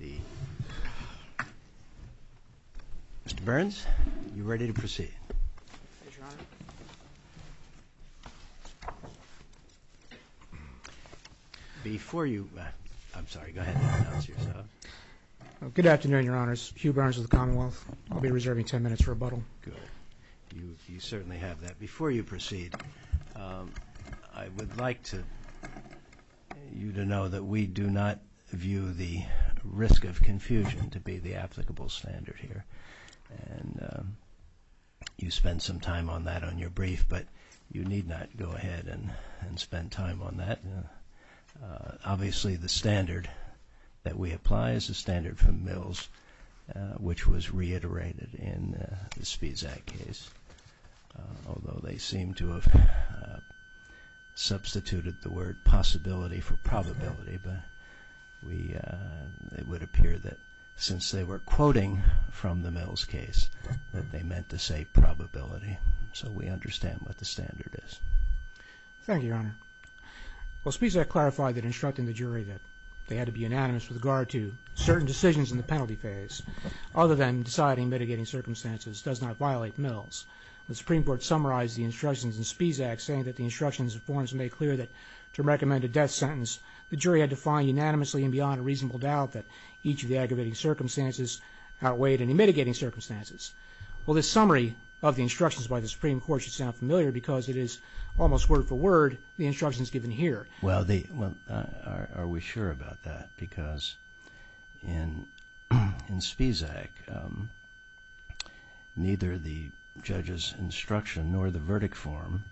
Mr. Burns, are you ready to proceed? Good afternoon, Your Honors. Hugh Burns of the Commonwealth. I'll be reserving ten minutes for rebuttal. You certainly have that. Before you proceed, I would like you to know that we do not view the risk of confusion to be the applicable standard here. And you spent some time on that on your brief, but you need not go ahead and spend time on that. Obviously, the standard that we apply is the standard from Mills, which was reiterated in the Speeds Act case. Although they seem to have substituted the word possibility for probability, but it would appear that since they were quoting from the Mills case, that they meant to say probability. So we understand what the standard is. Thank you, Your Honor. Well, Speeds Act clarified that instructing the jury that they had to be unanimous with regard to certain decisions in the penalty phase, other than deciding mitigating circumstances, does not violate Mills. The Supreme Court summarized the instructions in Speeds Act saying that the instructions and forms made clear that to recommend a death sentence, the jury had to find unanimously and beyond a reasonable doubt that each of the aggravating circumstances outweighed any mitigating circumstances. Well, this summary of the instructions by the Supreme Court should sound familiar because it is almost word for word. The instructions given here. Well, are we sure about that? Because in Speeds Act, neither the judge's instruction nor the verdict form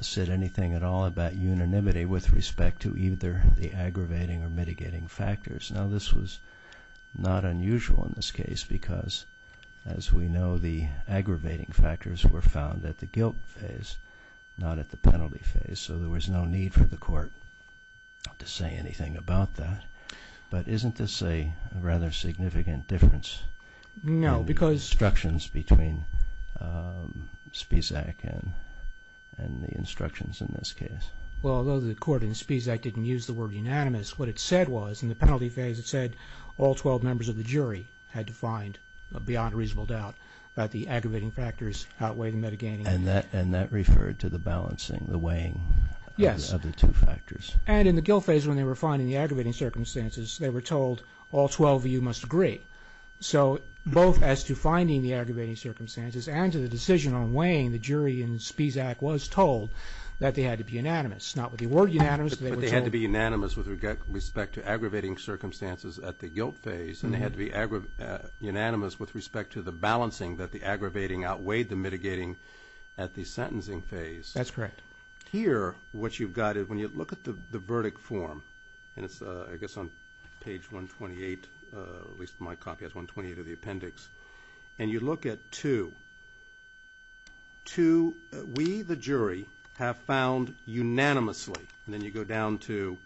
said anything at all about unanimity with respect to either the aggravating or mitigating factors. Now, this was not unusual in this case because, as we know, the aggravating factors were found at the guilt phase, not at the penalty phase. So there was no need for the court to say anything about that. But isn't this a rather significant difference in the instructions between Speeds Act and the instructions in this case? Well, although the court in Speeds Act didn't use the word unanimous, what it said was in the penalty phase, it said all 12 members of the jury had to find beyond a reasonable doubt that the aggravating factors outweigh the mitigating. And that referred to the balancing, the weighing of the two factors. Yes. And in the guilt phase, when they were finding the aggravating circumstances, they were told all 12 of you must agree. So both as to finding the aggravating circumstances and to the decision on weighing, the jury in Speeds Act was told that they had to be unanimous, not with the word unanimous. But they had to be unanimous with respect to aggravating circumstances at the guilt phase, and they had to be unanimous with respect to the balancing that the aggravating outweighed the mitigating at the sentencing phase. That's correct. Here, what you've got is when you look at the verdict form, and it's I guess on page 128, at least my copy has 128 of the appendix, and you look at two, two we, the jury, have found unanimously. And then you go down to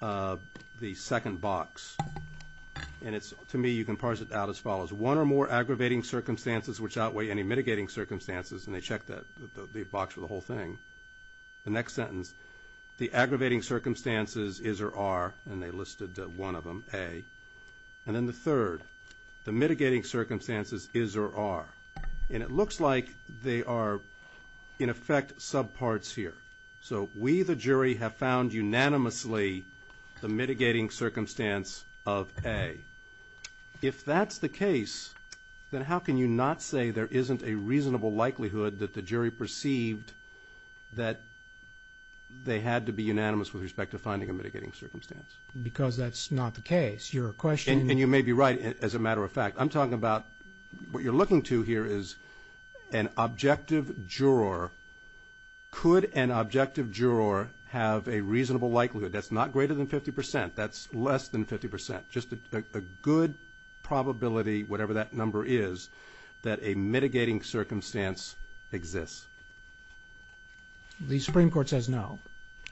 the second box, and it's to me you can parse it out as follows. The one or more aggravating circumstances which outweigh any mitigating circumstances, and they check the box for the whole thing. The next sentence, the aggravating circumstances is or are, and they listed one of them, A. And then the third, the mitigating circumstances is or are. And it looks like they are, in effect, subparts here. So we, the jury, have found unanimously the mitigating circumstance of A. If that's the case, then how can you not say there isn't a reasonable likelihood that the jury perceived that they had to be unanimous with respect to finding a mitigating circumstance? Because that's not the case. Your question and you may be right, as a matter of fact. I'm talking about what you're looking to here is an objective juror. Could an objective juror have a reasonable likelihood that's not greater than 50 percent, that's less than 50 percent? Just a good probability, whatever that number is, that a mitigating circumstance exists. The Supreme Court says no.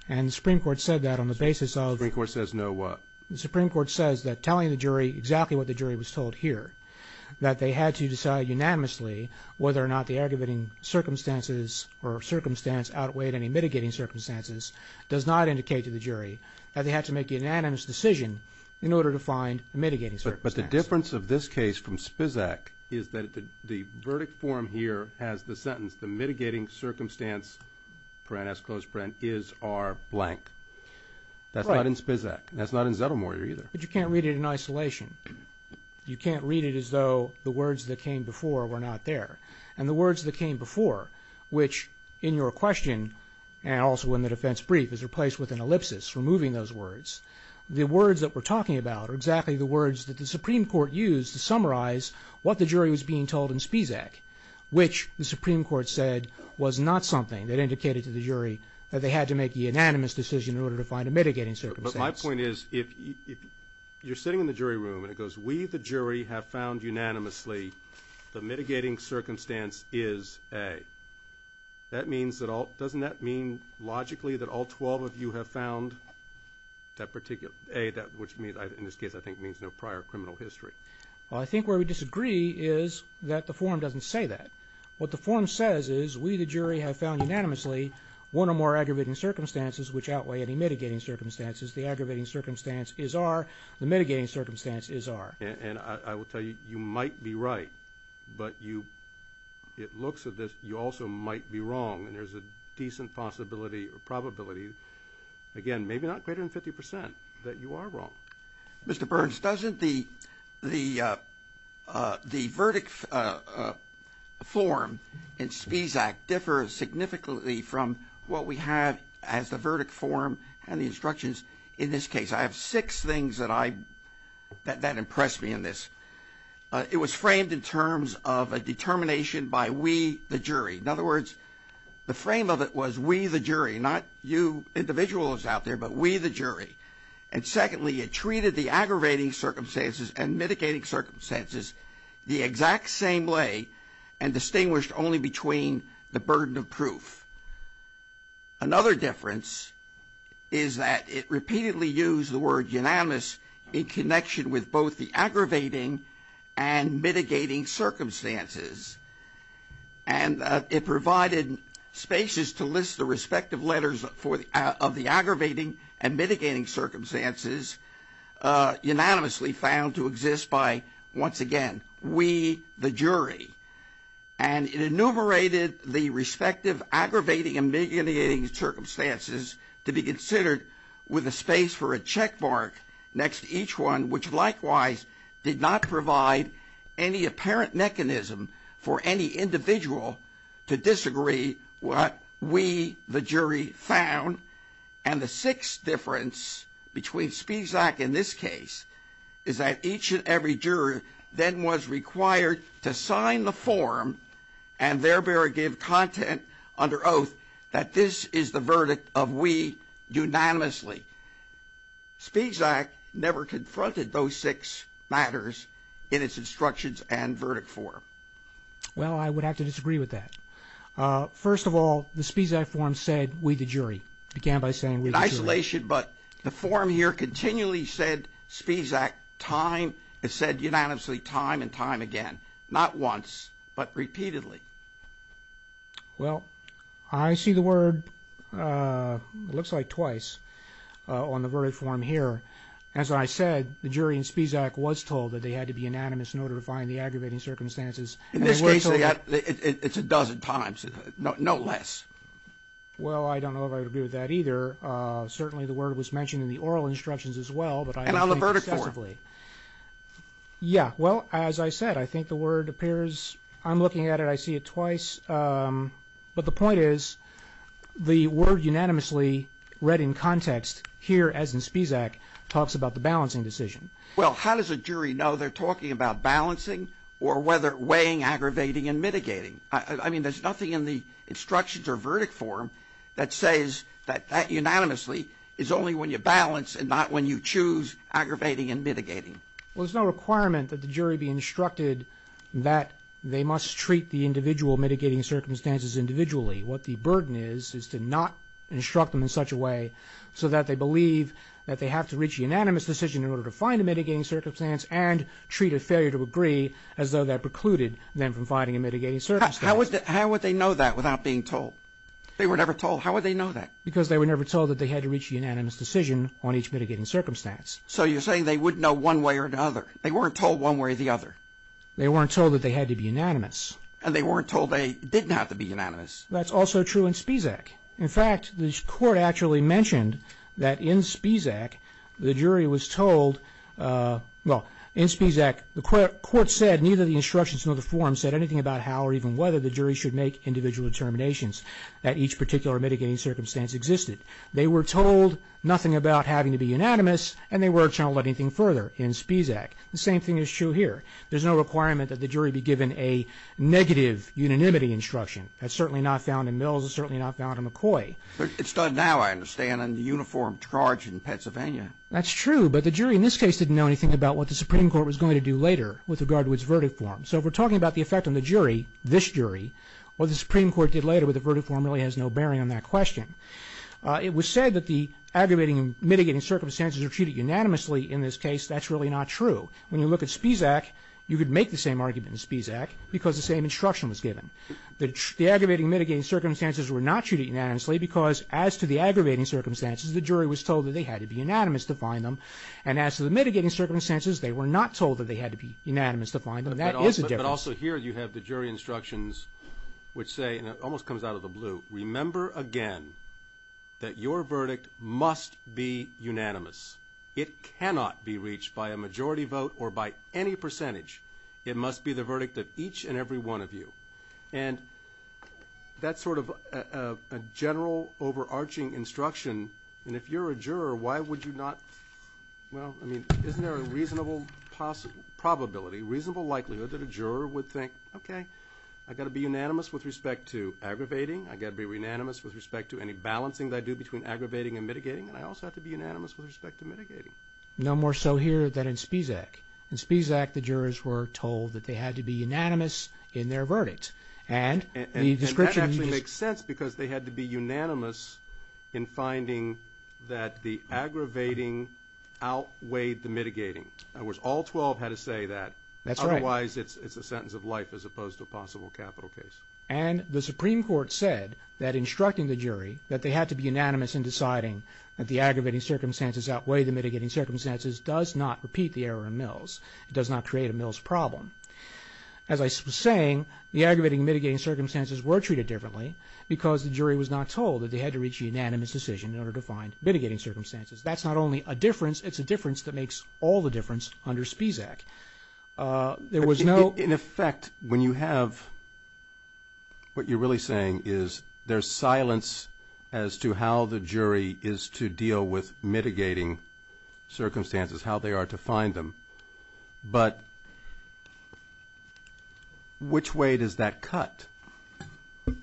And the Supreme Court said that on the basis of. The Supreme Court says no what? The Supreme Court says that telling the jury exactly what the jury was told here, that they had to decide unanimously whether or not the aggravating circumstances or circumstance outweighed any mitigating circumstances, does not indicate to the jury that they had to make a unanimous decision in order to find a mitigating circumstance. But the difference of this case from Spisak is that the verdict form here has the sentence, the mitigating circumstance is our blank. That's not in Spisak. That's not in Zettelmoyer either. But you can't read it in isolation. You can't read it as though the words that came before were not there. And the words that came before, which in your question, and also in the defense brief is replaced with an ellipsis removing those words, the words that we're talking about are exactly the words that the Supreme Court used to summarize what the jury was being told in Spisak, which the Supreme Court said was not something that indicated to the jury that they had to make a unanimous decision in order to find a mitigating circumstance. But my point is if you're sitting in the jury room and it goes, we the jury have found unanimously the mitigating circumstance is A, doesn't that mean logically that all 12 of you have found that particular A, which in this case I think means no prior criminal history? Well, I think where we disagree is that the form doesn't say that. What the form says is we the jury have found unanimously one or more aggravating circumstances which outweigh any mitigating circumstances. The aggravating circumstance is R. The mitigating circumstance is R. And I will tell you, you might be right, but you, it looks at this, you also might be wrong and there's a decent possibility or probability, again, maybe not greater than 50% that you are wrong. Mr. Burns, doesn't the verdict form in Spisak differ significantly from what we have as the verdict form and the instructions in this case? I have six things that impressed me in this. It was framed in terms of a determination by we the jury. In other words, the frame of it was we the jury, not you individuals out there, but we the jury. And secondly, it treated the aggravating circumstances and mitigating circumstances the exact same way and distinguished only between the burden of proof. Another difference is that it repeatedly used the word unanimous in connection with both the aggravating and mitigating circumstances. And it provided spaces to list the respective letters of the aggravating and mitigating circumstances unanimously found to exist by, once again, we the jury. And it enumerated the respective aggravating and mitigating circumstances to be considered with a space for a check mark next to each one, which likewise did not provide any apparent mechanism for any individual to disagree what we the jury found. And the sixth difference between Spisak and this case is that each and every juror then was required to sign the form and thereby give content under oath that this is the verdict of we unanimously. Spisak never confronted those six matters in its instructions and verdict form. Well, I would have to disagree with that. First of all, the Spisak form said we the jury. It began by saying we the jury. But the form here continually said Spisak time, it said unanimously time and time again, not once, but repeatedly. Well, I see the word, it looks like twice, on the verdict form here. As I said, the jury in Spisak was told that they had to be unanimous in order to find the aggravating circumstances. In this case, it's a dozen times, no less. Well, I don't know if I would agree with that either. Certainly the word was mentioned in the oral instructions as well. And on the verdict form. Yeah. Well, as I said, I think the word appears, I'm looking at it, I see it twice. But the point is the word unanimously read in context here, as in Spisak, talks about the balancing decision. Well, how does a jury know they're talking about balancing or whether weighing, aggravating, and mitigating? I mean, there's nothing in the instructions or verdict form that says that that unanimously is only when you balance and not when you choose aggravating and mitigating. Well, there's no requirement that the jury be instructed that they must treat the individual mitigating circumstances individually. What the burden is is to not instruct them in such a way so that they believe that they have to reach a unanimous decision in order to find a mitigating circumstance and treat a failure to agree as though that precluded them from finding a mitigating circumstance. How would they know that without being told? They were never told. How would they know that? Because they were never told that they had to reach a unanimous decision on each mitigating circumstance. So you're saying they wouldn't know one way or another. They weren't told one way or the other. They weren't told that they had to be unanimous. And they weren't told they didn't have to be unanimous. That's also true in Spisak. In fact, the Court actually mentioned that in Spisak, the jury was told, well, in Spisak, the Court said, neither the instructions nor the form said anything about how or even whether the jury should make individual determinations that each particular mitigating circumstance existed. They were told nothing about having to be unanimous and they weren't told anything further in Spisak. The same thing is true here. There's no requirement that the jury be given a negative unanimity instruction. That's certainly not found in Mills. It's certainly not found in McCoy. It's done now, I understand, under uniformed charge in Pennsylvania. That's true, but the jury in this case didn't know anything about what the Supreme Court was going to do later with regard to its verdict form. So if we're talking about the effect on the jury, this jury, what the Supreme Court did later with the verdict form really has no bearing on that question. It was said that the aggravating and mitigating circumstances were treated unanimously in this case. That's really not true. When you look at Spisak, you could make the same argument in Spisak because the same instruction was given. The aggravating and mitigating circumstances were not treated unanimously because as to the aggravating circumstances, the jury was told that they had to be unanimous to find them. And as to the mitigating circumstances, they were not told that they had to be unanimous to find them. That is a difference. But also here you have the jury instructions which say, and it almost comes out of the blue, remember again that your verdict must be unanimous. It cannot be reached by a majority vote or by any percentage. It must be the verdict of each and every one of you. And that's sort of a general overarching instruction. And if you're a juror, why would you not? Well, I mean, isn't there a reasonable possibility, reasonable likelihood that a juror would think, okay, I've got to be unanimous with respect to aggravating. I've got to be unanimous with respect to any balancing that I do between aggravating and mitigating. And I also have to be unanimous with respect to mitigating. No more so here than in Spisak. In Spisak, the jurors were told that they had to be unanimous in their verdict. And the description used... And that actually makes sense because they had to be unanimous in finding that the aggravating outweighed the mitigating. In other words, all 12 had to say that. That's right. Otherwise, it's a sentence of life as opposed to a possible capital case. And the Supreme Court said that instructing the jury that they had to be unanimous in deciding that the aggravating circumstances outweigh the mitigating circumstances does not repeat the error in Mills. It does not create a Mills problem. As I was saying, the aggravating and mitigating circumstances were treated differently because the jury was not told that they had to reach a unanimous decision in order to find mitigating circumstances. That's not only a difference, it's a difference that makes all the difference under Spisak. There was no... In effect, when you have... What you're really saying is there's silence as to how the jury is to deal with mitigating circumstances, how they are to find them. But which way does that cut?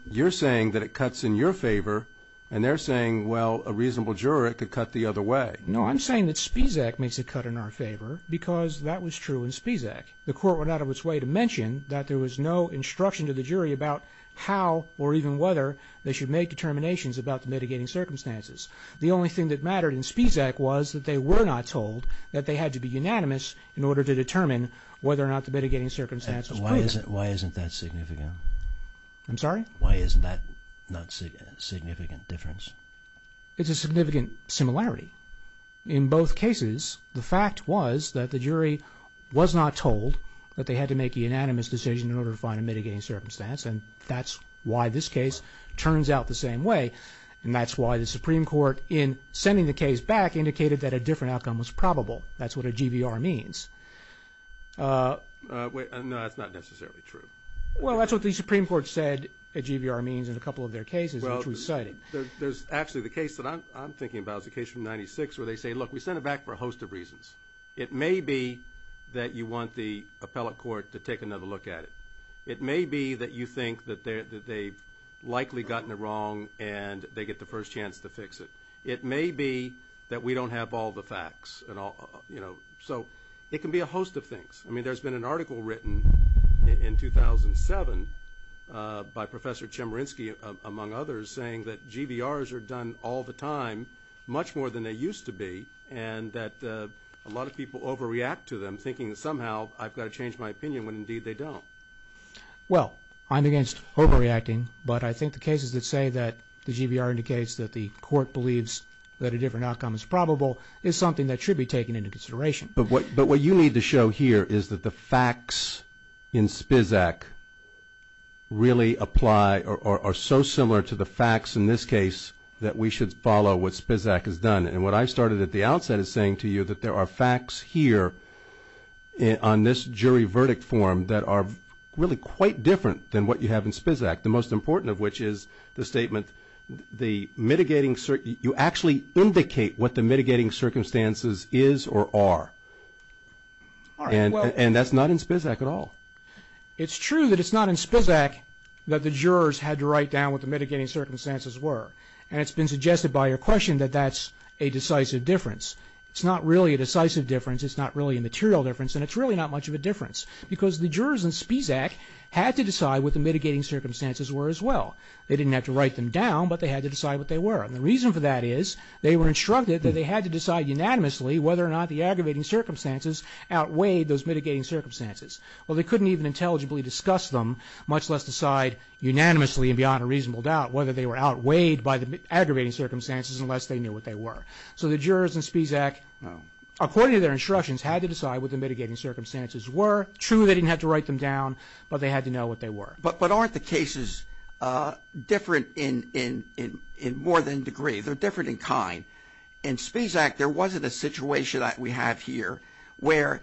You're saying that it cuts in your favor, and they're saying, well, a reasonable juror could cut the other way. No, I'm saying that Spisak makes a cut in our favor because that was true in Spisak. The court went out of its way to mention that there was no instruction to the jury about how or even whether they should make determinations about the mitigating circumstances. The only thing that mattered in Spisak was that they were not told that they had to be unanimous in order to determine whether or not the mitigating circumstances were proven. Why isn't that significant? I'm sorry? Why isn't that not a significant difference? It's a significant similarity. In both cases, the fact was that the jury was not told that they had to make a unanimous decision in order to find a mitigating circumstance, and that's why this case turns out the same way. And that's why the Supreme Court, in sending the case back, indicated that a different outcome was probable. That's what a GVR means. No, that's not necessarily true. Well, that's what the Supreme Court said a GVR means in a couple of their cases, which we cited. There's actually the case that I'm thinking about. It's a case from 1996 where they say, look, we sent it back for a host of reasons. It may be that you want the appellate court to take another look at it. It may be that you think that they've likely gotten it wrong and they get the first chance to fix it. It may be that we don't have all the facts. So it can be a host of things. I mean, there's been an article written in 2007 by Professor Chemerinsky, among others, saying that GVRs are done all the time, much more than they used to be, and that a lot of people overreact to them, thinking that somehow I've got to change my opinion when indeed they don't. Well, I'm against overreacting, but I think the cases that say that the GVR indicates that the court believes that a different outcome is probable is something that should be taken into consideration. But what you need to show here is that the facts in SPISAC really apply or are so similar to the facts in this case that we should follow what SPISAC has done. And what I started at the outset as saying to you, that there are facts here on this jury verdict form that are really quite different than what you have in SPISAC, the most important of which is the statement, you actually indicate what the mitigating circumstances is or are. And that's not in SPISAC at all. It's true that it's not in SPISAC that the jurors had to write down what the mitigating circumstances were, and it's been suggested by your question that that's a decisive difference. It's not really a decisive difference. It's not really a material difference, and it's really not much of a difference because the jurors in SPISAC had to decide what the mitigating circumstances were as well. They didn't have to write them down, but they had to decide what they were. And the reason for that is they were instructed that they had to decide unanimously whether or not the aggravating circumstances outweighed those mitigating circumstances. Well, they couldn't even intelligibly discuss them, much less decide unanimously and beyond a reasonable doubt whether they were outweighed by the aggravating circumstances unless they knew what they were. So the jurors in SPISAC, according to their instructions, had to decide what the mitigating circumstances were. True, they didn't have to write them down, but they had to know what they were. But aren't the cases different in more than degree? They're different in kind. In SPISAC, there wasn't a situation that we have here where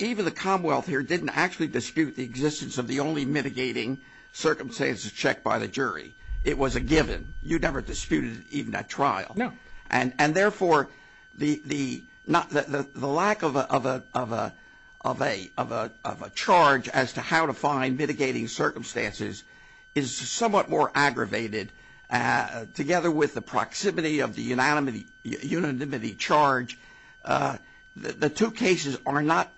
even the Commonwealth here didn't actually dispute the existence of the only mitigating circumstances checked by the jury. It was a given. You never disputed even that trial. No. And therefore, the lack of a charge as to how to find mitigating circumstances is somewhat more aggravated. Together with the proximity of the unanimity charge, the two cases are not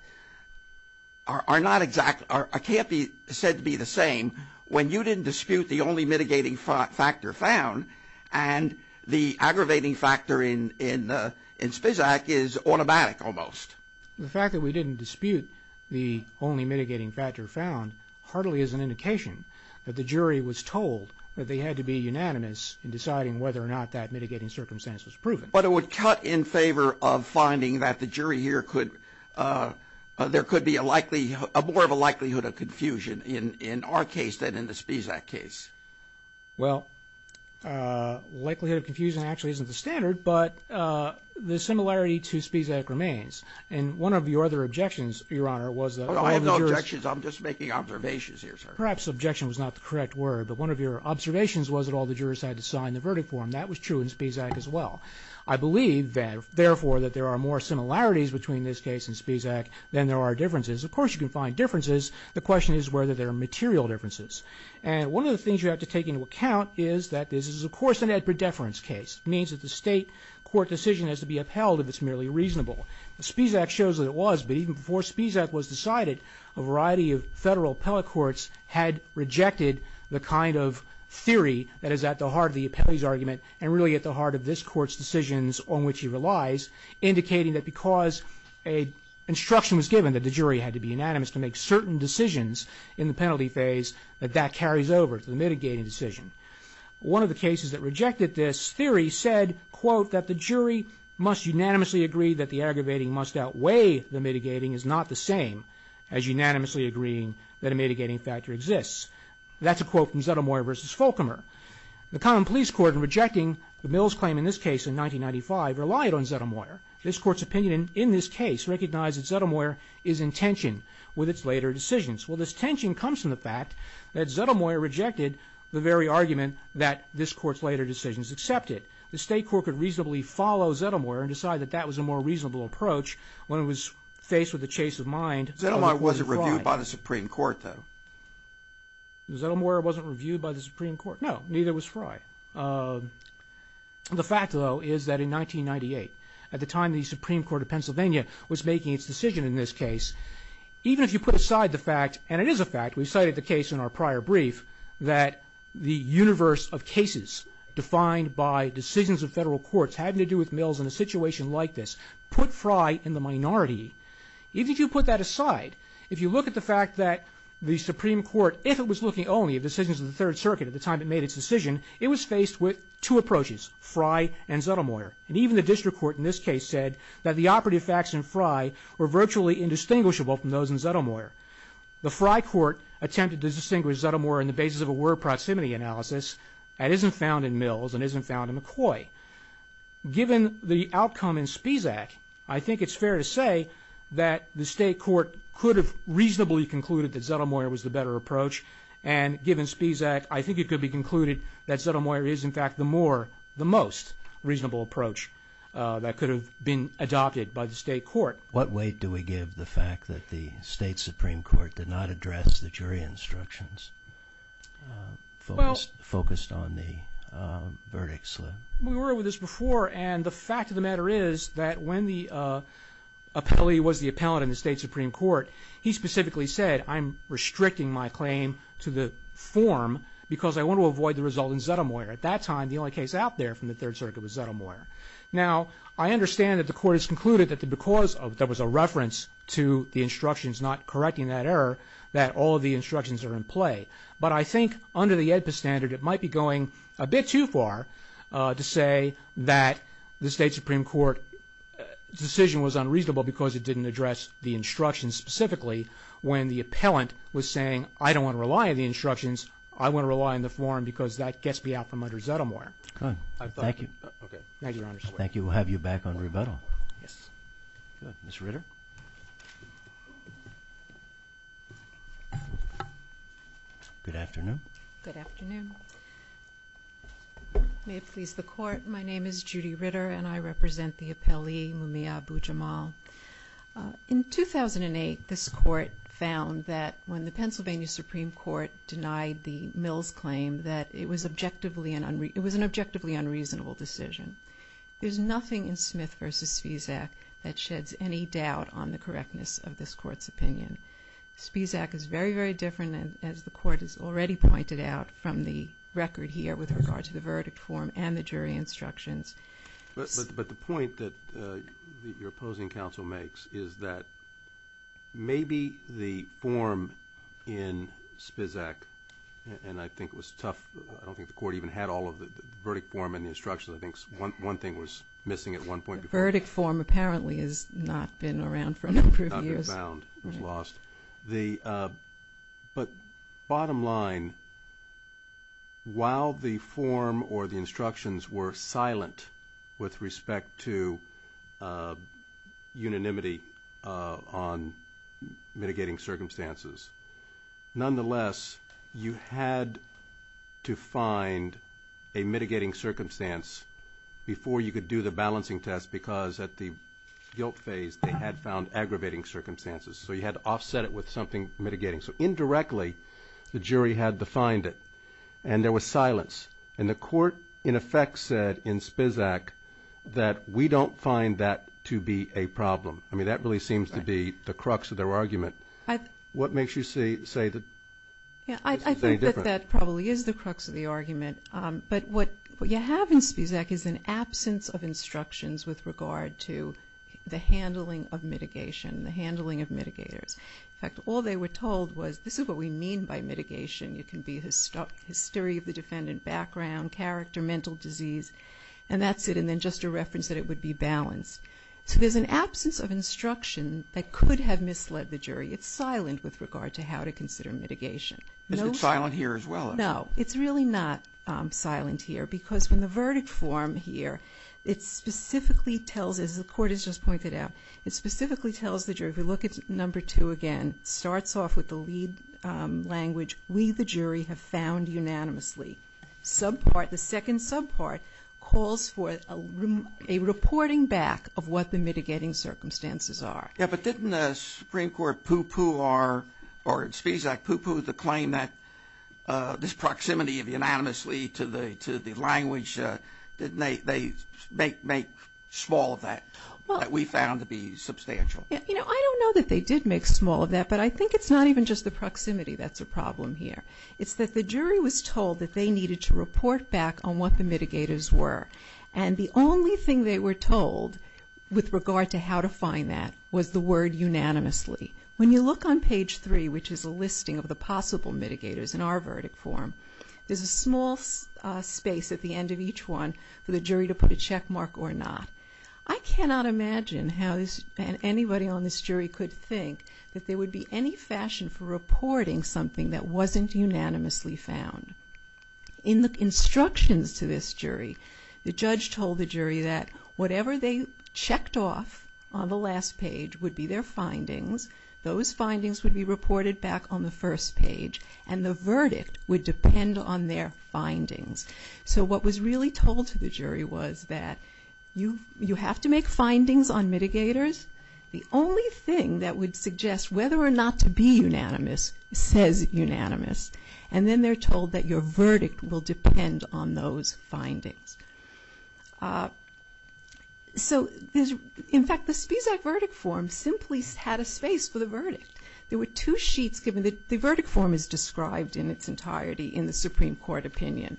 exactly, can't be said to be the same when you didn't dispute the only mitigating factor found and the aggravating factor in SPISAC is automatic almost. The fact that we didn't dispute the only mitigating factor found hardly is an indication that the jury was told that they had to be unanimous in deciding whether or not that mitigating circumstance was proven. But it would cut in favor of finding that the jury here could, there could be more of a likelihood of confusion in our case than in the SPISAC case. Well, likelihood of confusion actually isn't the standard, but the similarity to SPISAC remains. And one of your other objections, Your Honor, was that all the jurors I have no objections. I'm just making observations here, sir. Perhaps objection was not the correct word, but one of your observations was that all the jurors had to sign the verdict form. That was true in SPISAC as well. I believe, therefore, that there are more similarities between this case and SPISAC than there are differences. Of course, you can find differences. The question is whether there are material differences. And one of the things you have to take into account is that this is, of course, an ad predeference case. It means that the state court decision has to be upheld if it's merely reasonable. SPISAC shows that it was, but even before SPISAC was decided, a variety of federal appellate courts had rejected the kind of theory that is at the heart of the appellee's argument and really at the heart of this court's decisions on which he relies, indicating that because an instruction was given that the jury had to be unanimous to make certain decisions in the penalty phase, that that carries over to the mitigating decision. One of the cases that rejected this theory said, quote, that the jury must unanimously agree that the aggravating must outweigh the mitigating is not the same as unanimously agreeing that a mitigating factor exists. That's a quote from Zettelmaier v. Folkemer. The common police court in rejecting the Mills claim in this case in 1995 relied on Zettelmaier. This court's opinion in this case recognized that Zettelmaier is in tension with its later decisions. Well, this tension comes from the fact that Zettelmaier rejected the very argument that this court's later decisions accepted. The state court could reasonably follow Zettelmaier and decide that that was a more reasonable approach when it was faced with a chase of mind. Zettelmaier wasn't reviewed by the Supreme Court, though. Zettelmaier wasn't reviewed by the Supreme Court. No, neither was Fry. The fact, though, is that in 1998, at the time the Supreme Court of Pennsylvania was making its decision in this case, even if you put aside the fact, and it is a fact, we cited the case in our prior brief, that the universe of cases defined by decisions of federal courts having to do with Mills in a situation like this put Fry in the minority. Even if you put that aside, if you look at the fact that the Supreme Court, if it was looking only at decisions of the Third Circuit at the time it made its decision, it was faced with two approaches, Fry and Zettelmaier. And even the district court in this case said that the operative facts in Fry were virtually indistinguishable from those in Zettelmaier. The Fry court attempted to distinguish Zettelmaier on the basis of a word proximity analysis that isn't found in Mills and isn't found in McCoy. Given the outcome in Spizak, I think it's fair to say that the state court could have reasonably concluded that Zettelmaier was the better approach. And given Spizak, I think it could be concluded that Zettelmaier is, in fact, the most reasonable approach that could have been adopted by the state court. What weight do we give the fact that the state Supreme Court did not address the jury instructions focused on the verdict slip? We were over this before, and the fact of the matter is that when the appellee was the appellant in the state Supreme Court, he specifically said, I'm restricting my claim to the form because I want to avoid the result in Zettelmaier. At that time, the only case out there from the Third Circuit was Zettelmaier. Now, I understand that the court has concluded that because there was a reference to the instructions not correcting that error, that all of the instructions are in play. But I think under the AEDPA standard, it might be going a bit too far to say that the state Supreme Court decision was unreasonable because it didn't address the instructions specifically when the appellant was saying, I don't want to rely on the instructions, I want to rely on the form because that gets me out from under Zettelmaier. Thank you. Thank you, Your Honor. Thank you. We'll have you back on rebuttal. Yes. Good. Ms. Ritter. Good afternoon. Good afternoon. May it please the Court. My name is Judy Ritter, and I represent the appellee, Mumia Abu-Jamal. In 2008, this Court found that when the Pennsylvania Supreme Court denied the Mills claim that it was an objectively unreasonable decision. There's nothing in Smith v. Spisak that sheds any doubt on the correctness of this Court's opinion. Spisak is very, very different, as the Court has already pointed out, from the record here with regard to the verdict form and the jury instructions. But the point that your opposing counsel makes is that maybe the form in Spisak, and I think it was tough, I don't think the Court even had all of the verdict form and the instructions, I think one thing was missing at one point. The verdict form apparently has not been around for a number of years. Not been found. It was lost. But bottom line, while the form or the instructions were silent with respect to unanimity on mitigating circumstances, nonetheless, you had to find a mitigating circumstance before you could do the balancing test because at the guilt phase, they had found aggravating circumstances. So you had to offset it with something mitigating. So indirectly, the jury had defined it, and there was silence. And the Court, in effect, said in Spisak that we don't find that to be a problem. I mean, that really seems to be the crux of their argument. What makes you say that this is any different? I think that that probably is the crux of the argument. But what you have in Spisak is an absence of instructions with regard to the handling of mitigation, the handling of mitigators. In fact, all they were told was this is what we mean by mitigation. It can be hysteria of the defendant, background, character, mental disease, and that's it, and then just a reference that it would be balanced. So there's an absence of instruction that could have misled the jury. It's silent with regard to how to consider mitigation. Is it silent here as well? No. It's really not silent here because when the verdict form here, it specifically tells, as the Court has just pointed out, it specifically tells the jury, if you look at Number 2 again, it starts off with the lead language, we, the jury, have found unanimously. Subpart, the second subpart, calls for a reporting back of what the mitigating circumstances are. Yeah, but didn't the Supreme Court pooh-pooh our, or Spisak pooh-pooh the claim that this proximity of unanimously to the language, didn't they make small of that, that we found to be substantial? You know, I don't know that they did make small of that, but I think it's not even just the proximity that's a problem here. It's that the jury was told that they needed to report back on what the mitigators were, and the only thing they were told with regard to how to find that was the word unanimously. When you look on Page 3, which is a listing of the possible mitigators in our verdict form, there's a small space at the end of each one for the jury to put a checkmark or not. I cannot imagine how anybody on this jury could think that there would be any fashion for reporting something that wasn't unanimously found. In the instructions to this jury, the judge told the jury that whatever they checked off on the last page would be their findings, those findings would be reported back on the first page, and the verdict would depend on their findings. So what was really told to the jury was that you have to make findings on mitigators. The only thing that would suggest whether or not to be unanimous says unanimous, and then they're told that your verdict will depend on those findings. So, in fact, the Spesak verdict form simply had a space for the verdict. There were two sheets given. The verdict form is described in its entirety in the Supreme Court opinion.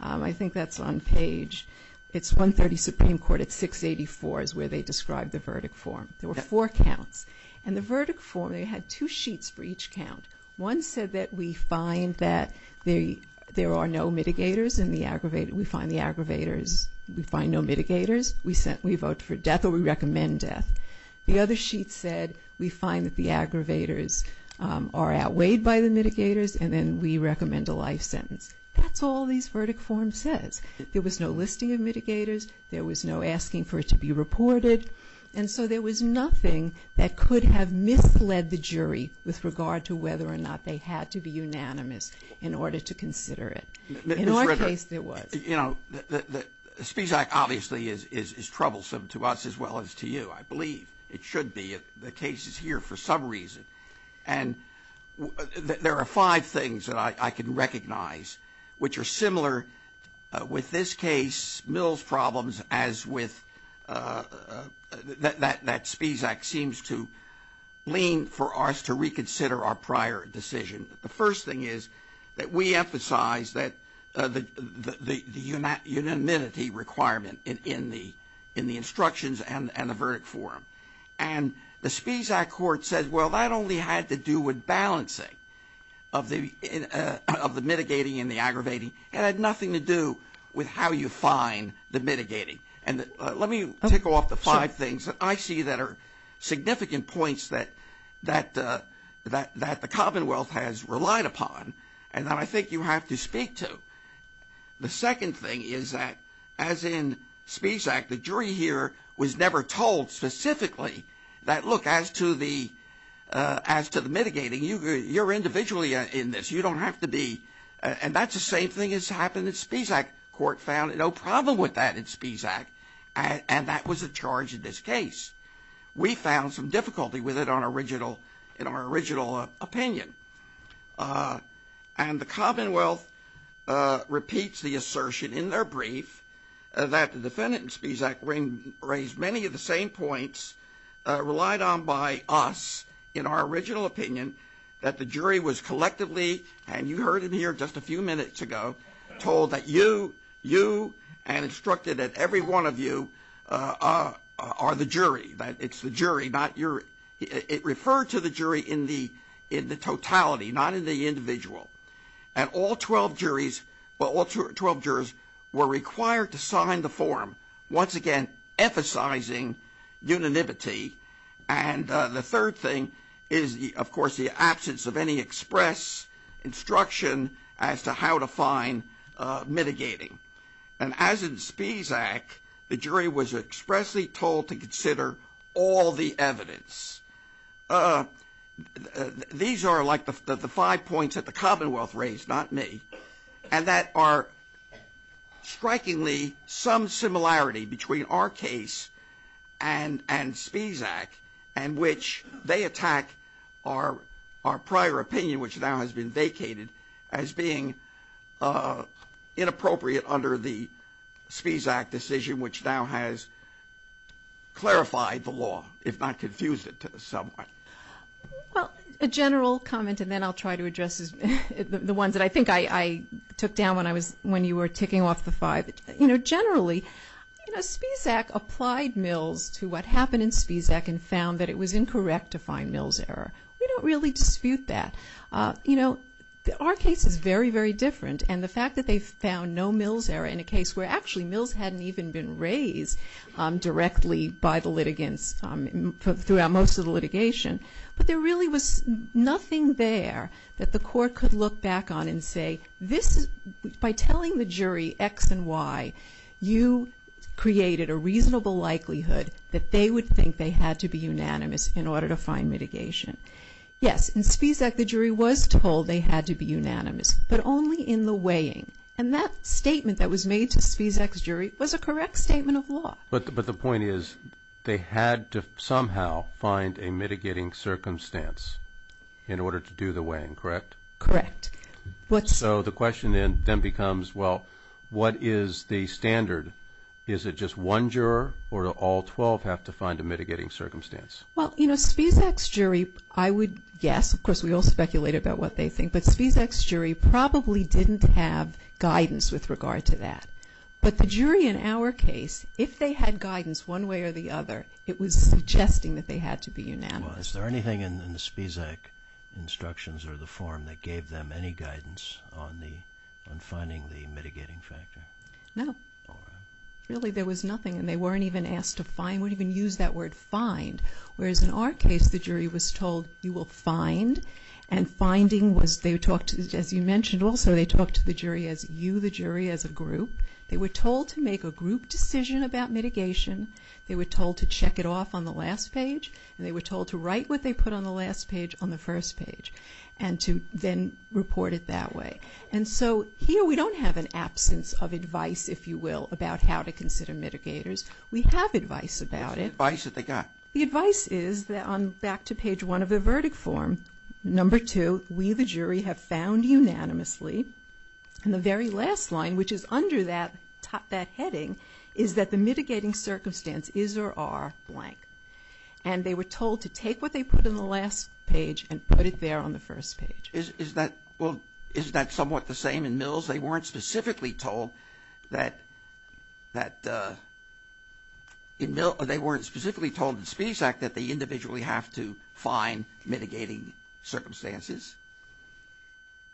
I think that's on page, it's 130 Supreme Court at 684 is where they describe the verdict form. There were four counts, and the verdict form, they had two sheets for each count. One said that we find that there are no mitigators in the aggravated, we find the aggravators, we find no mitigators, we vote for death or we recommend death. The other sheet said we find that the aggravators are outweighed by the mitigators and then we recommend a life sentence. That's all this verdict form says. There was no listing of mitigators. There was no asking for it to be reported. And so there was nothing that could have misled the jury with regard to whether or not they had to be unanimous in order to consider it. In our case, there was. You know, the Spesak obviously is troublesome to us as well as to you, I believe. It should be. The case is here for some reason. And there are five things that I can recognize which are similar with this case, Mill's problems as with that Spesak seems to lean for us to reconsider our prior decision. The first thing is that we emphasize that the unanimity requirement in the instructions and the verdict form. And the Spesak court said, well, that only had to do with balancing of the mitigating and the aggravating. It had nothing to do with how you find the mitigating. And let me tick off the five things that I see that are significant points that the Commonwealth has relied upon and that I think you have to speak to. The second thing is that, as in Spesak, the jury here was never told specifically that, look, as to the mitigating, you're individually in this. You don't have to be. And that's the same thing that's happened in Spesak. Court found no problem with that in Spesak. And that was a charge in this case. We found some difficulty with it in our original opinion. And the Commonwealth repeats the assertion in their brief that the defendant in Spesak raised many of the same points relied on by us in our original opinion that the jury was collectively, and you heard it here just a few minutes ago, told that you and instructed that every one of you are the jury, that it's the jury, not your. It referred to the jury in the totality, not in the individual. And all 12 juries were required to sign the form, once again emphasizing unanimity. And the third thing is, of course, the absence of any express instruction as to how to find mitigating. And as in Spesak, the jury was expressly told to consider all the evidence. These are like the five points that the Commonwealth raised, not me, and that are strikingly some similarity between our case and Spesak, in which they attack our prior opinion, which now has been vacated, as being inappropriate under the Spesak decision, which now has clarified the law, if not confused it somewhat. Well, a general comment, and then I'll try to address the ones that I think I took down when you were ticking off the five. Generally, Spesak applied Mills to what happened in Spesak and found that it was incorrect to find Mills' error. We don't really dispute that. Our case is very, very different, and the fact that they found no Mills' error in a case where actually Mills hadn't even been raised directly by the litigants throughout most of the litigation, but there really was nothing there that the court could look back on and say, by telling the jury X and Y, you created a reasonable likelihood that they would think they had to be unanimous in order to find mitigation. Yes, in Spesak the jury was told they had to be unanimous, but only in the weighing, and that statement that was made to Spesak's jury was a correct statement of law. But the point is they had to somehow find a mitigating circumstance in order to do the weighing, correct? Correct. So the question then becomes, well, what is the standard? Is it just one juror, or do all 12 have to find a mitigating circumstance? Well, you know, Spesak's jury, I would guess, of course we all speculate about what they think, but Spesak's jury probably didn't have guidance with regard to that. But the jury in our case, if they had guidance one way or the other, it was suggesting that they had to be unanimous. Is there anything in the Spesak instructions or the form that gave them any guidance on finding the mitigating factor? No. Really, there was nothing, and they weren't even asked to find, wouldn't even use that word find, whereas in our case the jury was told, you will find, and finding was, as you mentioned also, they talked to the jury as you, the jury, as a group. They were told to make a group decision about mitigation. They were told to check it off on the last page, and they were told to write what they put on the last page on the first page and to then report it that way. And so here we don't have an absence of advice, if you will, about how to consider mitigators. We have advice about it. What's the advice that they got? The advice is, back to page one of the verdict form, number two, we the jury have found unanimously, and the very last line, which is under that heading, is that the mitigating circumstance is or are blank. And they were told to take what they put on the last page and put it there on the first page. Well, isn't that somewhat the same in Mills? They weren't specifically told that, in Mills, they weren't specifically told in Spisak that they individually have to find mitigating circumstances.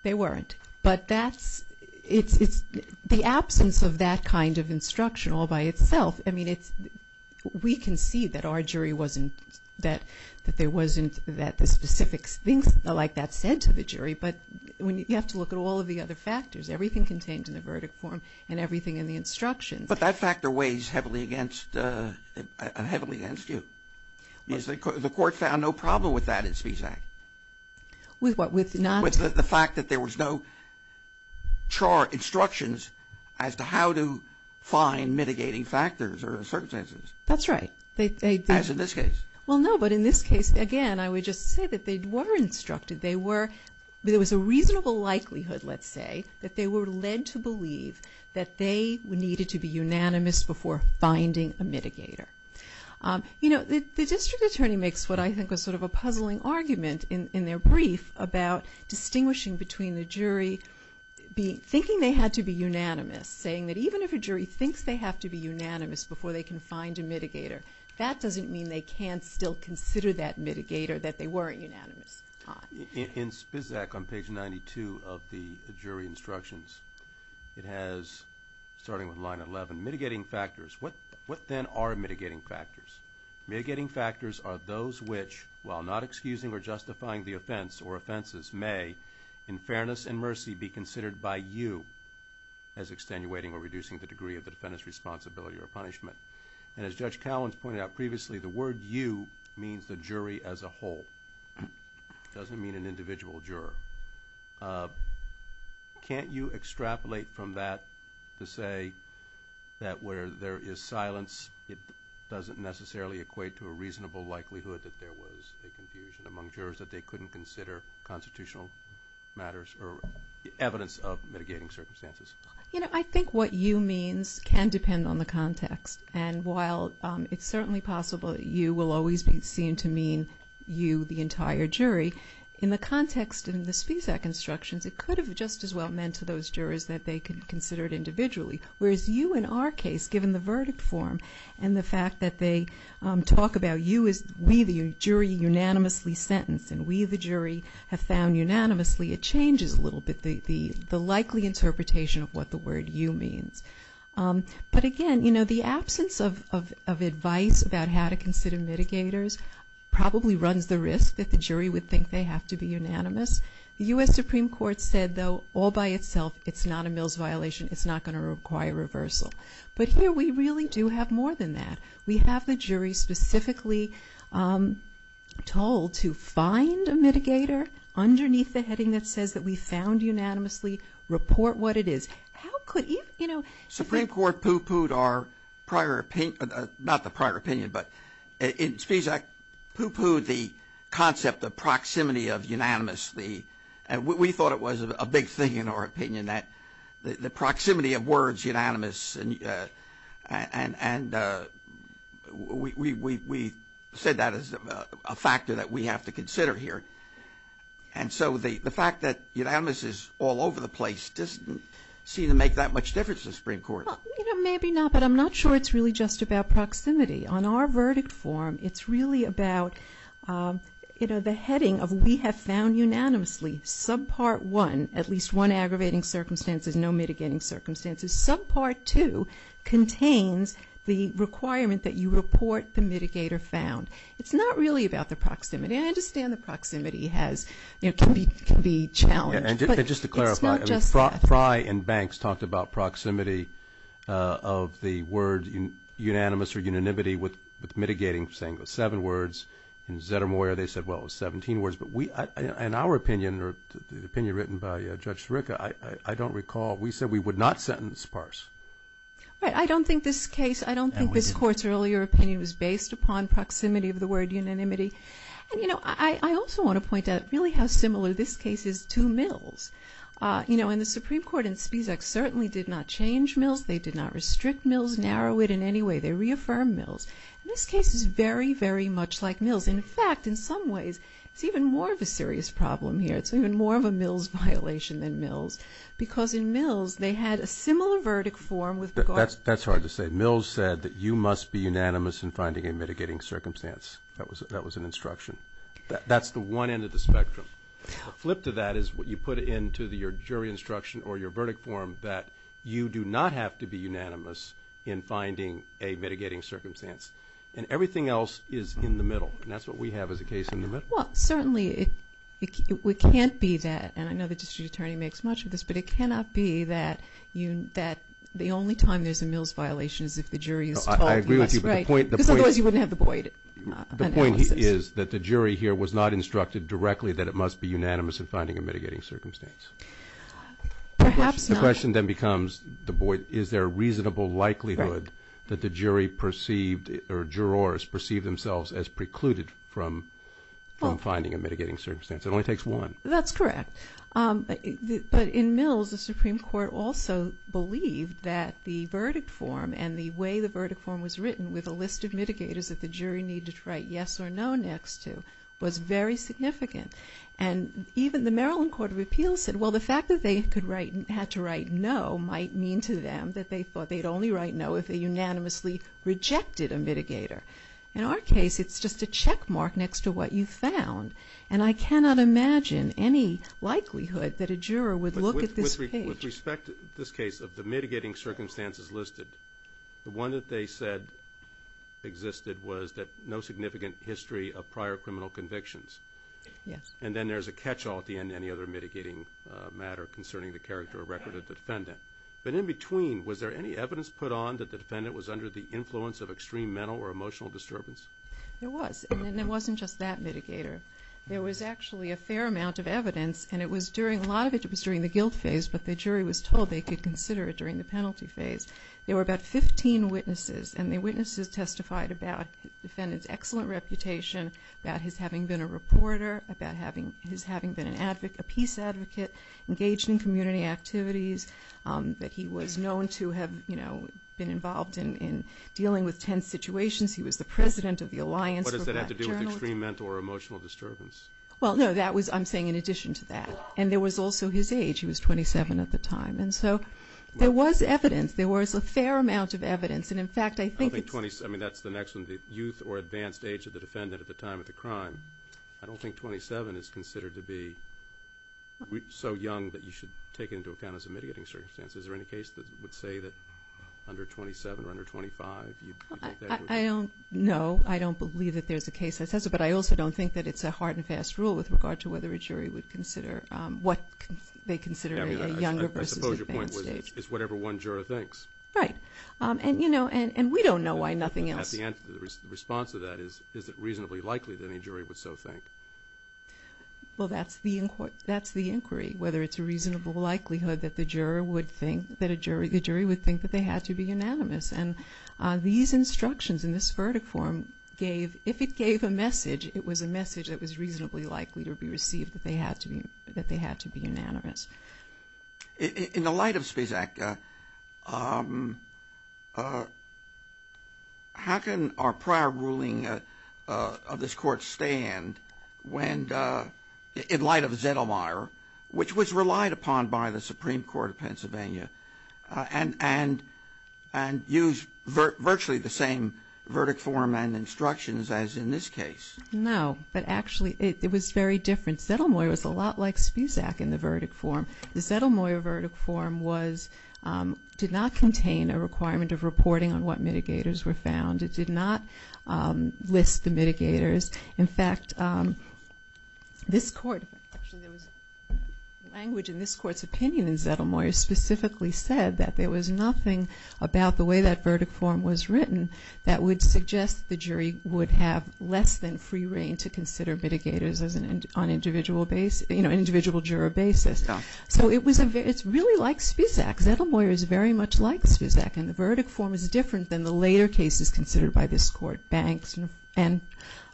They weren't. But that's the absence of that kind of instruction all by itself. I mean, we can see that our jury wasn't, that there wasn't the specific things like that said to the jury. But you have to look at all of the other factors, everything contained in the verdict form and everything in the instructions. But that factor weighs heavily against you. The court found no problem with that in Spisak. With what? With the fact that there was no chart instructions as to how to find mitigating factors or circumstances. That's right. As in this case. Well, no, but in this case, again, I would just say that they were instructed. There was a reasonable likelihood, let's say, that they were led to believe that they needed to be unanimous before finding a mitigator. You know, the district attorney makes what I think is sort of a puzzling argument in their brief about distinguishing between the jury thinking they had to be unanimous, saying that even if a jury thinks they have to be unanimous before they can find a mitigator, that doesn't mean they can't still consider that mitigator that they weren't unanimous on. In Spisak on page 92 of the jury instructions, it has, starting with line 11, mitigating factors. What then are mitigating factors? Mitigating factors are those which, while not excusing or justifying the offense or offenses may, in fairness and mercy, be considered by you as extenuating or reducing the degree of the defendant's responsibility or punishment. And as Judge Cowens pointed out previously, the word you means the jury as a whole. It doesn't mean an individual juror. Can't you extrapolate from that to say that where there is silence, it doesn't necessarily equate to a reasonable likelihood that there was a confusion among jurors that they couldn't consider constitutional matters or evidence of mitigating circumstances? You know, I think what you means can depend on the context. And while it's certainly possible that you will always be seen to mean you, the entire jury, in the context in the Spisak instructions, it could have just as well meant to those jurors that they considered individually, whereas you, in our case, given the verdict form and the fact that they talk about you as we, the jury, unanimously sentenced and we, the jury, have found unanimously, it changes a little bit the likely interpretation of what the word you means. But again, you know, the absence of advice about how to consider mitigators probably runs the risk that the jury would think they have to be unanimous. The U.S. Supreme Court said, though, all by itself, it's not a Mills violation. It's not going to require reversal. But here we really do have more than that. We have the jury specifically told to find a mitigator underneath the heading that says that we found unanimously, report what it is. How could even, you know... Not the prior opinion, but in Spisak, Poo Poo, the concept of proximity of unanimously, we thought it was a big thing in our opinion that the proximity of words unanimous and we said that is a factor that we have to consider here. And so the fact that unanimous is all over the place doesn't seem to make that much difference to the Supreme Court. Well, you know, maybe not, but I'm not sure it's really just about proximity. On our verdict form, it's really about, you know, the heading of we have found unanimously, subpart one, at least one aggravating circumstances, no mitigating circumstances. Subpart two contains the requirement that you report the mitigator found. It's not really about the proximity. I understand the proximity has, you know, can be challenged. And just to clarify, Frye and Banks talked about proximity of the word unanimous or unanimity with mitigating, saying it was seven words. In Zettermeyer, they said, well, it was 17 words. But we, in our opinion, or the opinion written by Judge Sirica, I don't recall, we said we would not sentence PARCE. Right. I don't think this case, I don't think this Court's earlier opinion was based upon proximity of the word unanimity. And, you know, I also want to point out really how similar this case is to Mill's. You know, and the Supreme Court in Spisak certainly did not change Mill's. They did not restrict Mill's, narrow it in any way. They reaffirmed Mill's. This case is very, very much like Mill's. In fact, in some ways, it's even more of a serious problem here. It's even more of a Mill's violation than Mill's, because in Mill's, they had a similar verdict form with regard to. That's hard to say. Mill's said that you must be unanimous in finding a mitigating circumstance. That was an instruction. That's the one end of the spectrum. The flip to that is what you put into your jury instruction or your verdict form, that you do not have to be unanimous in finding a mitigating circumstance. And everything else is in the middle, and that's what we have as a case in the middle. Well, certainly it can't be that, and I know the district attorney makes much of this, but it cannot be that the only time there's a Mill's violation is if the jury is told yes. I agree with you. Because otherwise you wouldn't have the Boyd analysis. The point is that the jury here was not instructed directly that it must be unanimous in finding a mitigating circumstance. Perhaps not. The question then becomes, is there a reasonable likelihood that the jury perceived or jurors perceived themselves as precluded from finding a mitigating circumstance? It only takes one. That's correct. But in Mill's, the Supreme Court also believed that the verdict form and the way the verdict form was written with a list of mitigators that the jury needed to write yes or no next to was very significant. And even the Maryland Court of Appeals said, well, the fact that they could write and had to write no might mean to them that they thought they'd only write no if they unanimously rejected a mitigator. In our case, it's just a checkmark next to what you found, and I cannot imagine any likelihood that a juror would look at this page. With respect to this case of the mitigating circumstances listed, the one that they said existed was that no significant history of prior criminal convictions. Yes. And then there's a catch-all at the end of any other mitigating matter concerning the character or record of the defendant. But in between, was there any evidence put on that the defendant was under the influence of extreme mental or emotional disturbance? There was, and it wasn't just that mitigator. There was actually a fair amount of evidence, and it was during a lot of it, and it was during the guilt phase, but the jury was told they could consider it during the penalty phase. There were about 15 witnesses, and the witnesses testified about the defendant's excellent reputation, about his having been a reporter, about his having been a peace advocate, engaged in community activities, that he was known to have been involved in dealing with tense situations. He was the president of the Alliance for Black Journalists. What does that have to do with extreme mental or emotional disturbance? Well, no, I'm saying in addition to that. And there was also his age. He was 27 at the time. And so there was evidence. There was a fair amount of evidence, and in fact, I think it's... I don't think 27, I mean, that's the next one, the youth or advanced age of the defendant at the time of the crime. I don't think 27 is considered to be so young that you should take it into account as a mitigating circumstance. Is there any case that would say that under 27 or under 25, you'd take that? I don't know. I don't believe that there's a case that says it. But I also don't think that it's a hard and fast rule with regard to whether a jury would consider what they consider a younger versus advanced age. I suppose your point was it's whatever one juror thinks. Right, and we don't know why nothing else. At the end, the response to that is, is it reasonably likely that any jury would so think? Well, that's the inquiry, whether it's a reasonable likelihood that the jury would think that they had to be unanimous. And these instructions in this verdict form gave... that they had to be unanimous. In the light of Spezak, how can our prior ruling of this Court stand in light of Zettelmeyer, which was relied upon by the Supreme Court of Pennsylvania, and use virtually the same verdict form and instructions as in this case? No, but actually it was very different. Zettelmeyer was a lot like Spezak in the verdict form. The Zettelmeyer verdict form was... did not contain a requirement of reporting on what mitigators were found. It did not list the mitigators. In fact, this Court... actually, there was language in this Court's opinion in Zettelmeyer specifically said that there was nothing about the way that verdict form was written that would suggest the jury would have less than free reign to consider mitigators on an individual juror basis. So it's really like Spezak. Zettelmeyer is very much like Spezak, and the verdict form is different than the later cases considered by this Court. Banks and...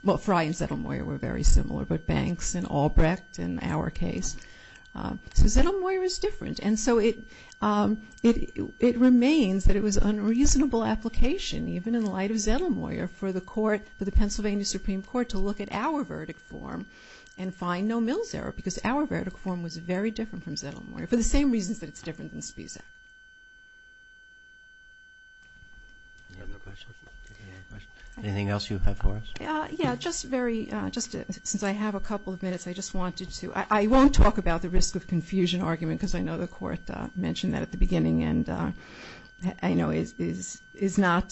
well, Frey and Zettelmeyer were very similar, but Banks and Albrecht in our case. So Zettelmeyer is different. And so it remains that it was an unreasonable application, even in light of Zettelmeyer, for the court... for the Pennsylvania Supreme Court to look at our verdict form and find no mills error, because our verdict form was very different from Zettelmeyer, for the same reasons that it's different than Spezak. Anything else you have for us? Yeah, just very... since I have a couple of minutes, I just wanted to... I won't talk about the risk of confusion argument because I know the Court mentioned that at the beginning, and I know is not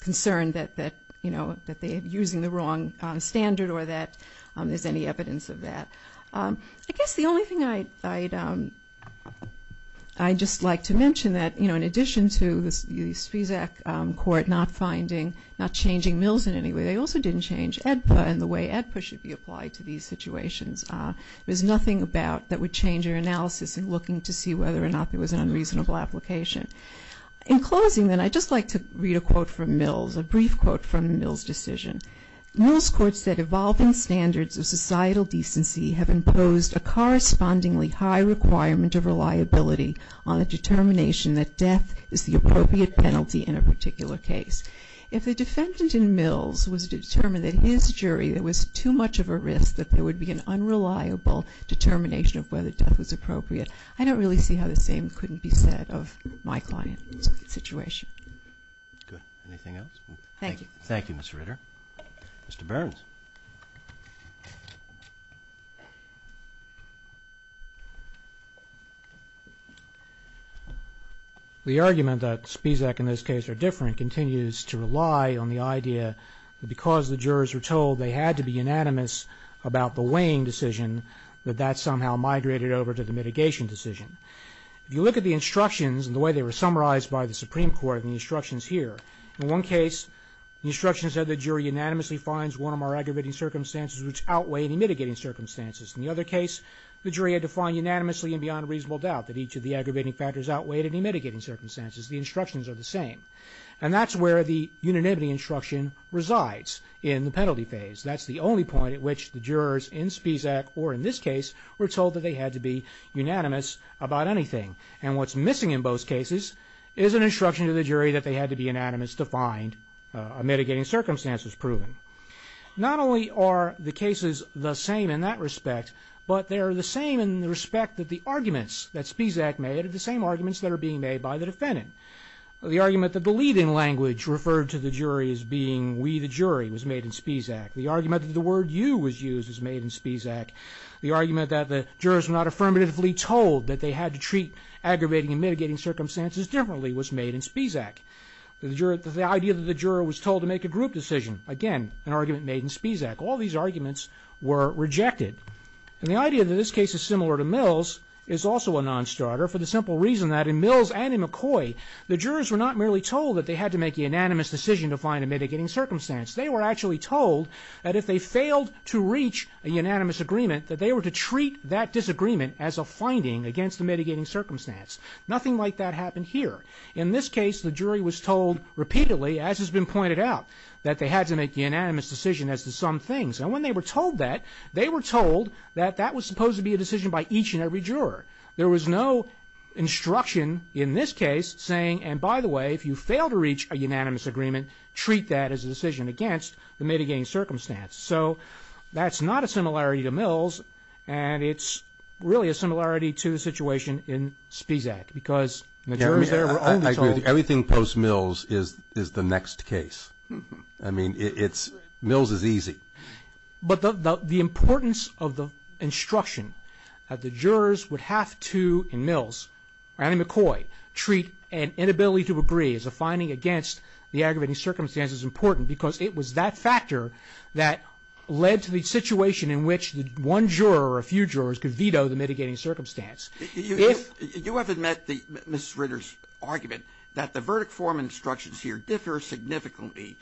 concerned that, you know, that they're using the wrong standard or that there's any evidence of that. I guess the only thing I'd... I'd just like to mention that, you know, in addition to the Spezak Court not finding... not changing mills in any way, they also didn't change AEDPA and the way AEDPA should be applied to these situations. There's nothing about... that would change your analysis in looking to see whether or not there was an unreasonable application. In closing, then, I'd just like to read a quote from Mills, a brief quote from the Mills decision. Mills Court said, Evolving standards of societal decency have imposed a correspondingly high requirement of reliability on the determination that death is the appropriate penalty in a particular case. If the defendant in Mills was determined that his jury there was too much of a risk that there would be an unreliable determination of whether death was appropriate, I don't really see how the same couldn't be said of my client's situation. Good. Anything else? Thank you. Thank you, Mr. Ritter. Mr. Burns. The argument that Spezak and this case are different continues to rely on the idea that because the jurors were told they had to be unanimous about the weighing decision, that that somehow migrated over to the mitigation decision. If you look at the instructions and the way they were summarized by the Supreme Court in the instructions here, in one case, the instruction said the jury unanimously finds one of our aggravating circumstances which outweigh any mitigating circumstances. In the other case, the jury had to find unanimously and beyond reasonable doubt that each of the aggravating factors outweighed any mitigating circumstances. The instructions are the same. And that's where the unanimity instruction resides in the penalty phase. That's the only point at which the jurors in Spezak or in this case were told that they had to be unanimous about anything. And what's missing in both cases is an instruction to the jury that they had to be unanimous to find a mitigating circumstance was proven. Not only are the cases the same in that respect, but they are the same in the respect that the arguments that Spezak made are the same arguments that are being made by the defendant. The argument that the lead-in language referred to the jury as being we the jury was made in Spezak. The argument that the word you was used was made in Spezak. The argument that the jurors were not affirmatively told that they had to treat aggravating and mitigating circumstances differently was made in Spezak. The idea that the juror was told to make a group decision, again, an argument made in Spezak. All these arguments were rejected. And the idea that this case is similar to Mills is also a non-starter for the simple reason that in Mills and in McCoy, the jurors were not merely told that they had to make a unanimous decision to find a mitigating circumstance. They were actually told that if they failed to reach a unanimous agreement, that they were to treat that disagreement as a finding against the mitigating circumstance. Nothing like that happened here. In this case, the jury was told repeatedly, as has been pointed out, that they had to make the unanimous decision as to some things. And when they were told that, they were told that that was supposed to be a decision by each and every juror. There was no instruction in this case saying, and by the way, if you fail to reach a unanimous agreement, treat that as a decision against the mitigating circumstance. So that's not a similarity to Mills, and it's really a similarity to the situation in Spezak because the jurors there were only told... I agree with you. Everything post-Mills is the next case. I mean, Mills is easy. But the importance of the instruction that the jurors would have to, in Mills, or Annie McCoy, treat an inability to agree as a finding against the aggravating circumstances important because it was that factor that led to the situation in which one juror or a few jurors could veto the mitigating circumstance. If... You haven't met Mrs. Ritter's argument that the verdict form instructions here differ significantly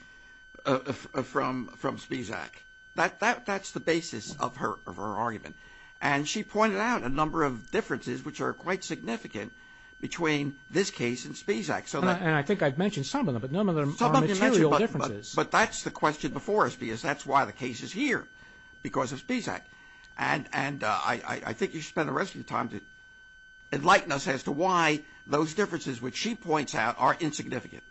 from Spezak. That's the basis of her argument. And she pointed out a number of differences which are quite significant between this case and Spezak. And I think I've mentioned some of them, but none of them are material differences. But that's the question before us because that's why the case is here, because of Spezak. And I think you should spend the rest of your time to enlighten us as to why those differences which she points out are insignificant.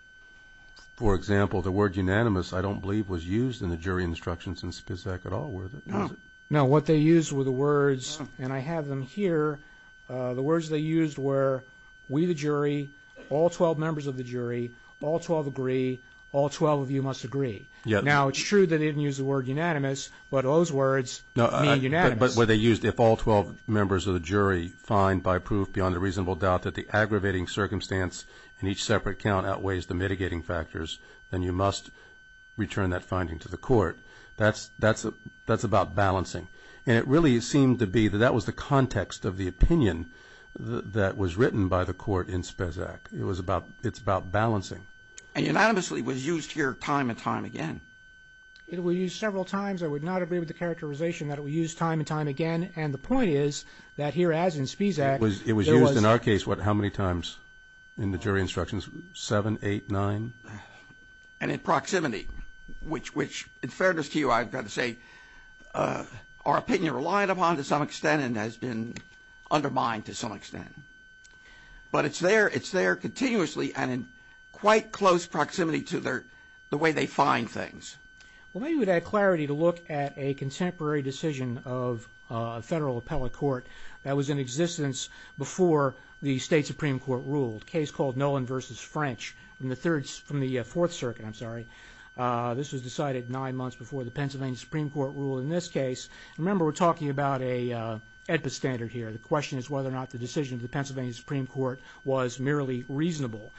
For example, the word unanimous, I don't believe, was used in the jury instructions in Spezak at all, was it? No. What they used were the words, and I have them here, the words they used were, we the jury, all 12 members of the jury, all 12 agree, all 12 of you must agree. Now, it's true that they didn't use the word unanimous, but those words mean unanimous. But what they used, if all 12 members of the jury find by proof beyond a reasonable doubt that the aggravating circumstance then you must return that finding to the court. That's about balancing. And it really seemed to be that that was the context of the opinion that was written by the court in Spezak. It was about, it's about balancing. And unanimously was used here time and time again. It was used several times. I would not agree with the characterization that it was used time and time again. And the point is that here as in Spezak, It was used in our case, what, how many times in the jury instructions? Seven, eight, nine? And in proximity, which in fairness to you, I've got to say, our opinion relied upon to some extent and has been undermined to some extent. But it's there, it's there continuously and in quite close proximity to their, the way they find things. Well, maybe we'd add clarity to look at a contemporary decision of a federal appellate court that was in existence before the State Supreme Court ruled, a case called Nolan v. French from the Third, from the Fourth Circuit. I'm sorry. This was decided nine months before the Pennsylvania Supreme Court ruled in this case. Remember, we're talking about a AEDPA standard here. The question is whether or not the decision of the Pennsylvania Supreme Court was merely reasonable.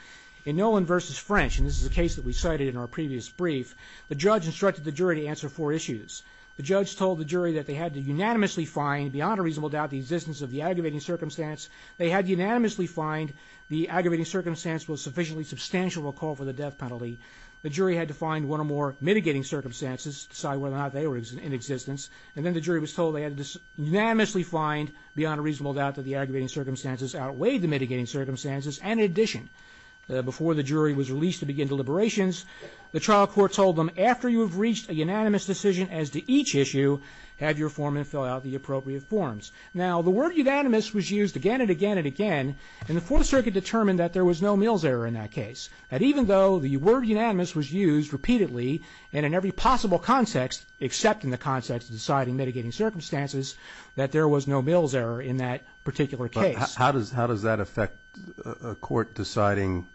In Nolan v. French, and this is a case that we cited in our previous brief, the judge instructed the jury to answer four issues. The judge told the jury that they had to unanimously find, beyond a reasonable doubt, the existence of the aggravating circumstance. They had unanimously find the aggravating circumstance was sufficiently substantial to call for the death penalty. The jury had to find one or more mitigating circumstances, decide whether or not they were in existence. And then the jury was told they had to unanimously find, beyond a reasonable doubt, that the aggravating circumstances outweighed the mitigating circumstances. And in addition, before the jury was released to begin deliberations, the trial court told them, after you have reached a unanimous decision as to each issue, have your foreman fill out the appropriate forms. Now, the word unanimous was used again and again and again, and the Fourth Circuit determined that there was no Mills error in that case. And even though the word unanimous was used repeatedly and in every possible context, except in the context of deciding mitigating circumstances, that there was no Mills error in that particular case. But how does that affect a court deciding,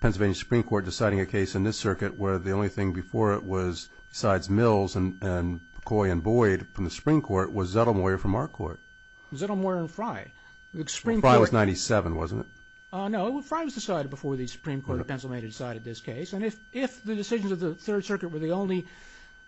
Pennsylvania Supreme Court deciding a case in this circuit where the only thing before it was, besides Mills and McCoy and Boyd from the Supreme Court, was Zettelmoyer from our court? Zettelmoyer and Fry. Fry was 97, wasn't it? No, Fry was decided before the Supreme Court of Pennsylvania decided this case. And if the decisions of the Third Circuit were the only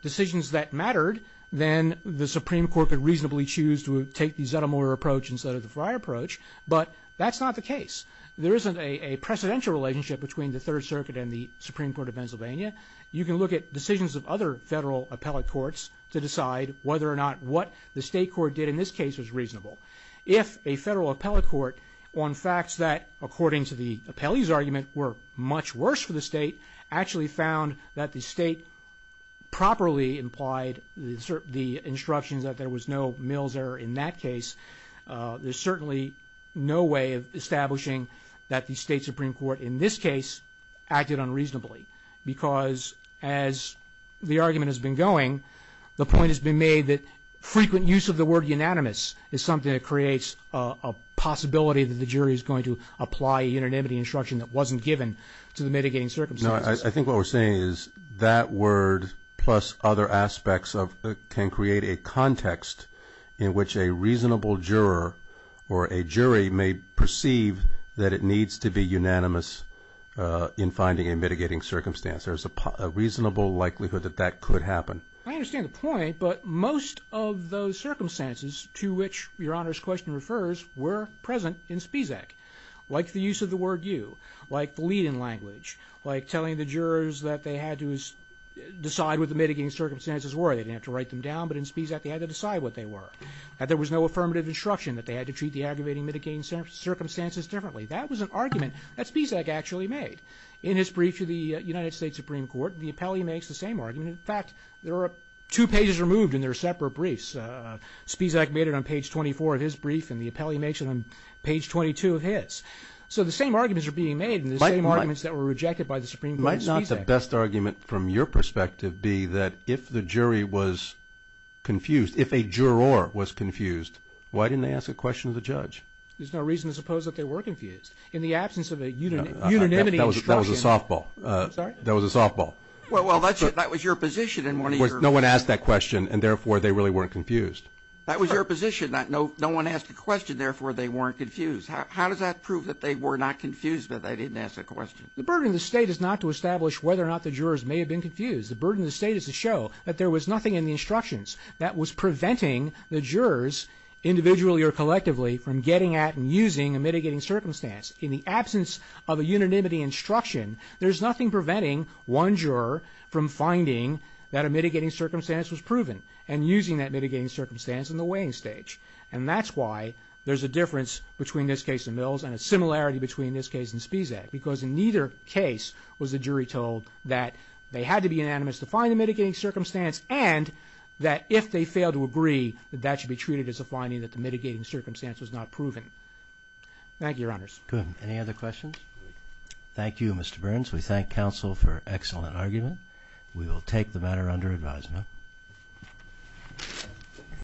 decisions that mattered, then the Supreme Court could reasonably choose to take the Zettelmoyer approach instead of the Fry approach. But that's not the case. There isn't a precedential relationship between the Third Circuit and the Supreme Court of Pennsylvania. You can look at decisions of other federal appellate courts to decide whether or not what the state court did in this case was reasonable. If a federal appellate court, on facts that, according to the appellee's argument, were much worse for the state, actually found that the state properly implied the instructions that there was no Mills error in that case, there's certainly no way of establishing that the state Supreme Court in this case acted unreasonably because as the argument has been going, the point has been made that frequent use of the word unanimous is something that creates a possibility that the jury is going to apply a unanimity instruction that wasn't given to the mitigating circumstances. No, I think what we're saying is that word plus other aspects can create a context in which a reasonable juror or a jury may perceive that it needs to be unanimous in finding a mitigating circumstance. There's a reasonable likelihood that that could happen. I understand the point, but most of those circumstances to which Your Honor's question refers were present in Spizak, like the use of the word you, like the lead in language, like telling the jurors that they had to decide what the mitigating circumstances were. They didn't have to write them down, but in Spizak they had to decide what they were, that there was no affirmative instruction, that they had to treat the aggravating mitigating circumstances differently. That was an argument that Spizak actually made. In his brief to the United States Supreme Court, the appellee makes the same argument. In fact, there are two pages removed in their separate briefs. Spizak made it on page 24 of his brief, and the appellee makes it on page 22 of his. So the same arguments are being made, and the same arguments that were rejected by the Supreme Court is not Spizak. Might the best argument from your perspective be that if the jury was confused, if a juror was confused, why didn't they ask a question of the judge? There's no reason to suppose that they were confused. In the absence of a unanimity instruction... That was a softball. Sorry? That was a softball. Well, that was your position in one of your... No one asked that question, and therefore they really weren't confused. That was your position, that no one asked a question, therefore they weren't confused. How does that prove that they were not confused but they didn't ask a question? The burden of the state is not to establish whether or not the jurors may have been confused. The burden of the state is to show that there was nothing in the instructions that was preventing the jurors, individually or collectively, from getting at and using a mitigating circumstance. In the absence of a unanimity instruction, there's nothing preventing one juror from finding that a mitigating circumstance was proven and using that mitigating circumstance in the weighing stage. And that's why there's a difference between this case and Mills and a similarity between this case and Spies Act because in neither case was the jury told that they had to be unanimous to find a mitigating circumstance and that if they failed to agree that that should be treated as a finding that the mitigating circumstance was not proven. Thank you, Your Honors. Good. Any other questions? Thank you, Mr. Burns. We thank counsel for an excellent argument. We will take the matter under advisement.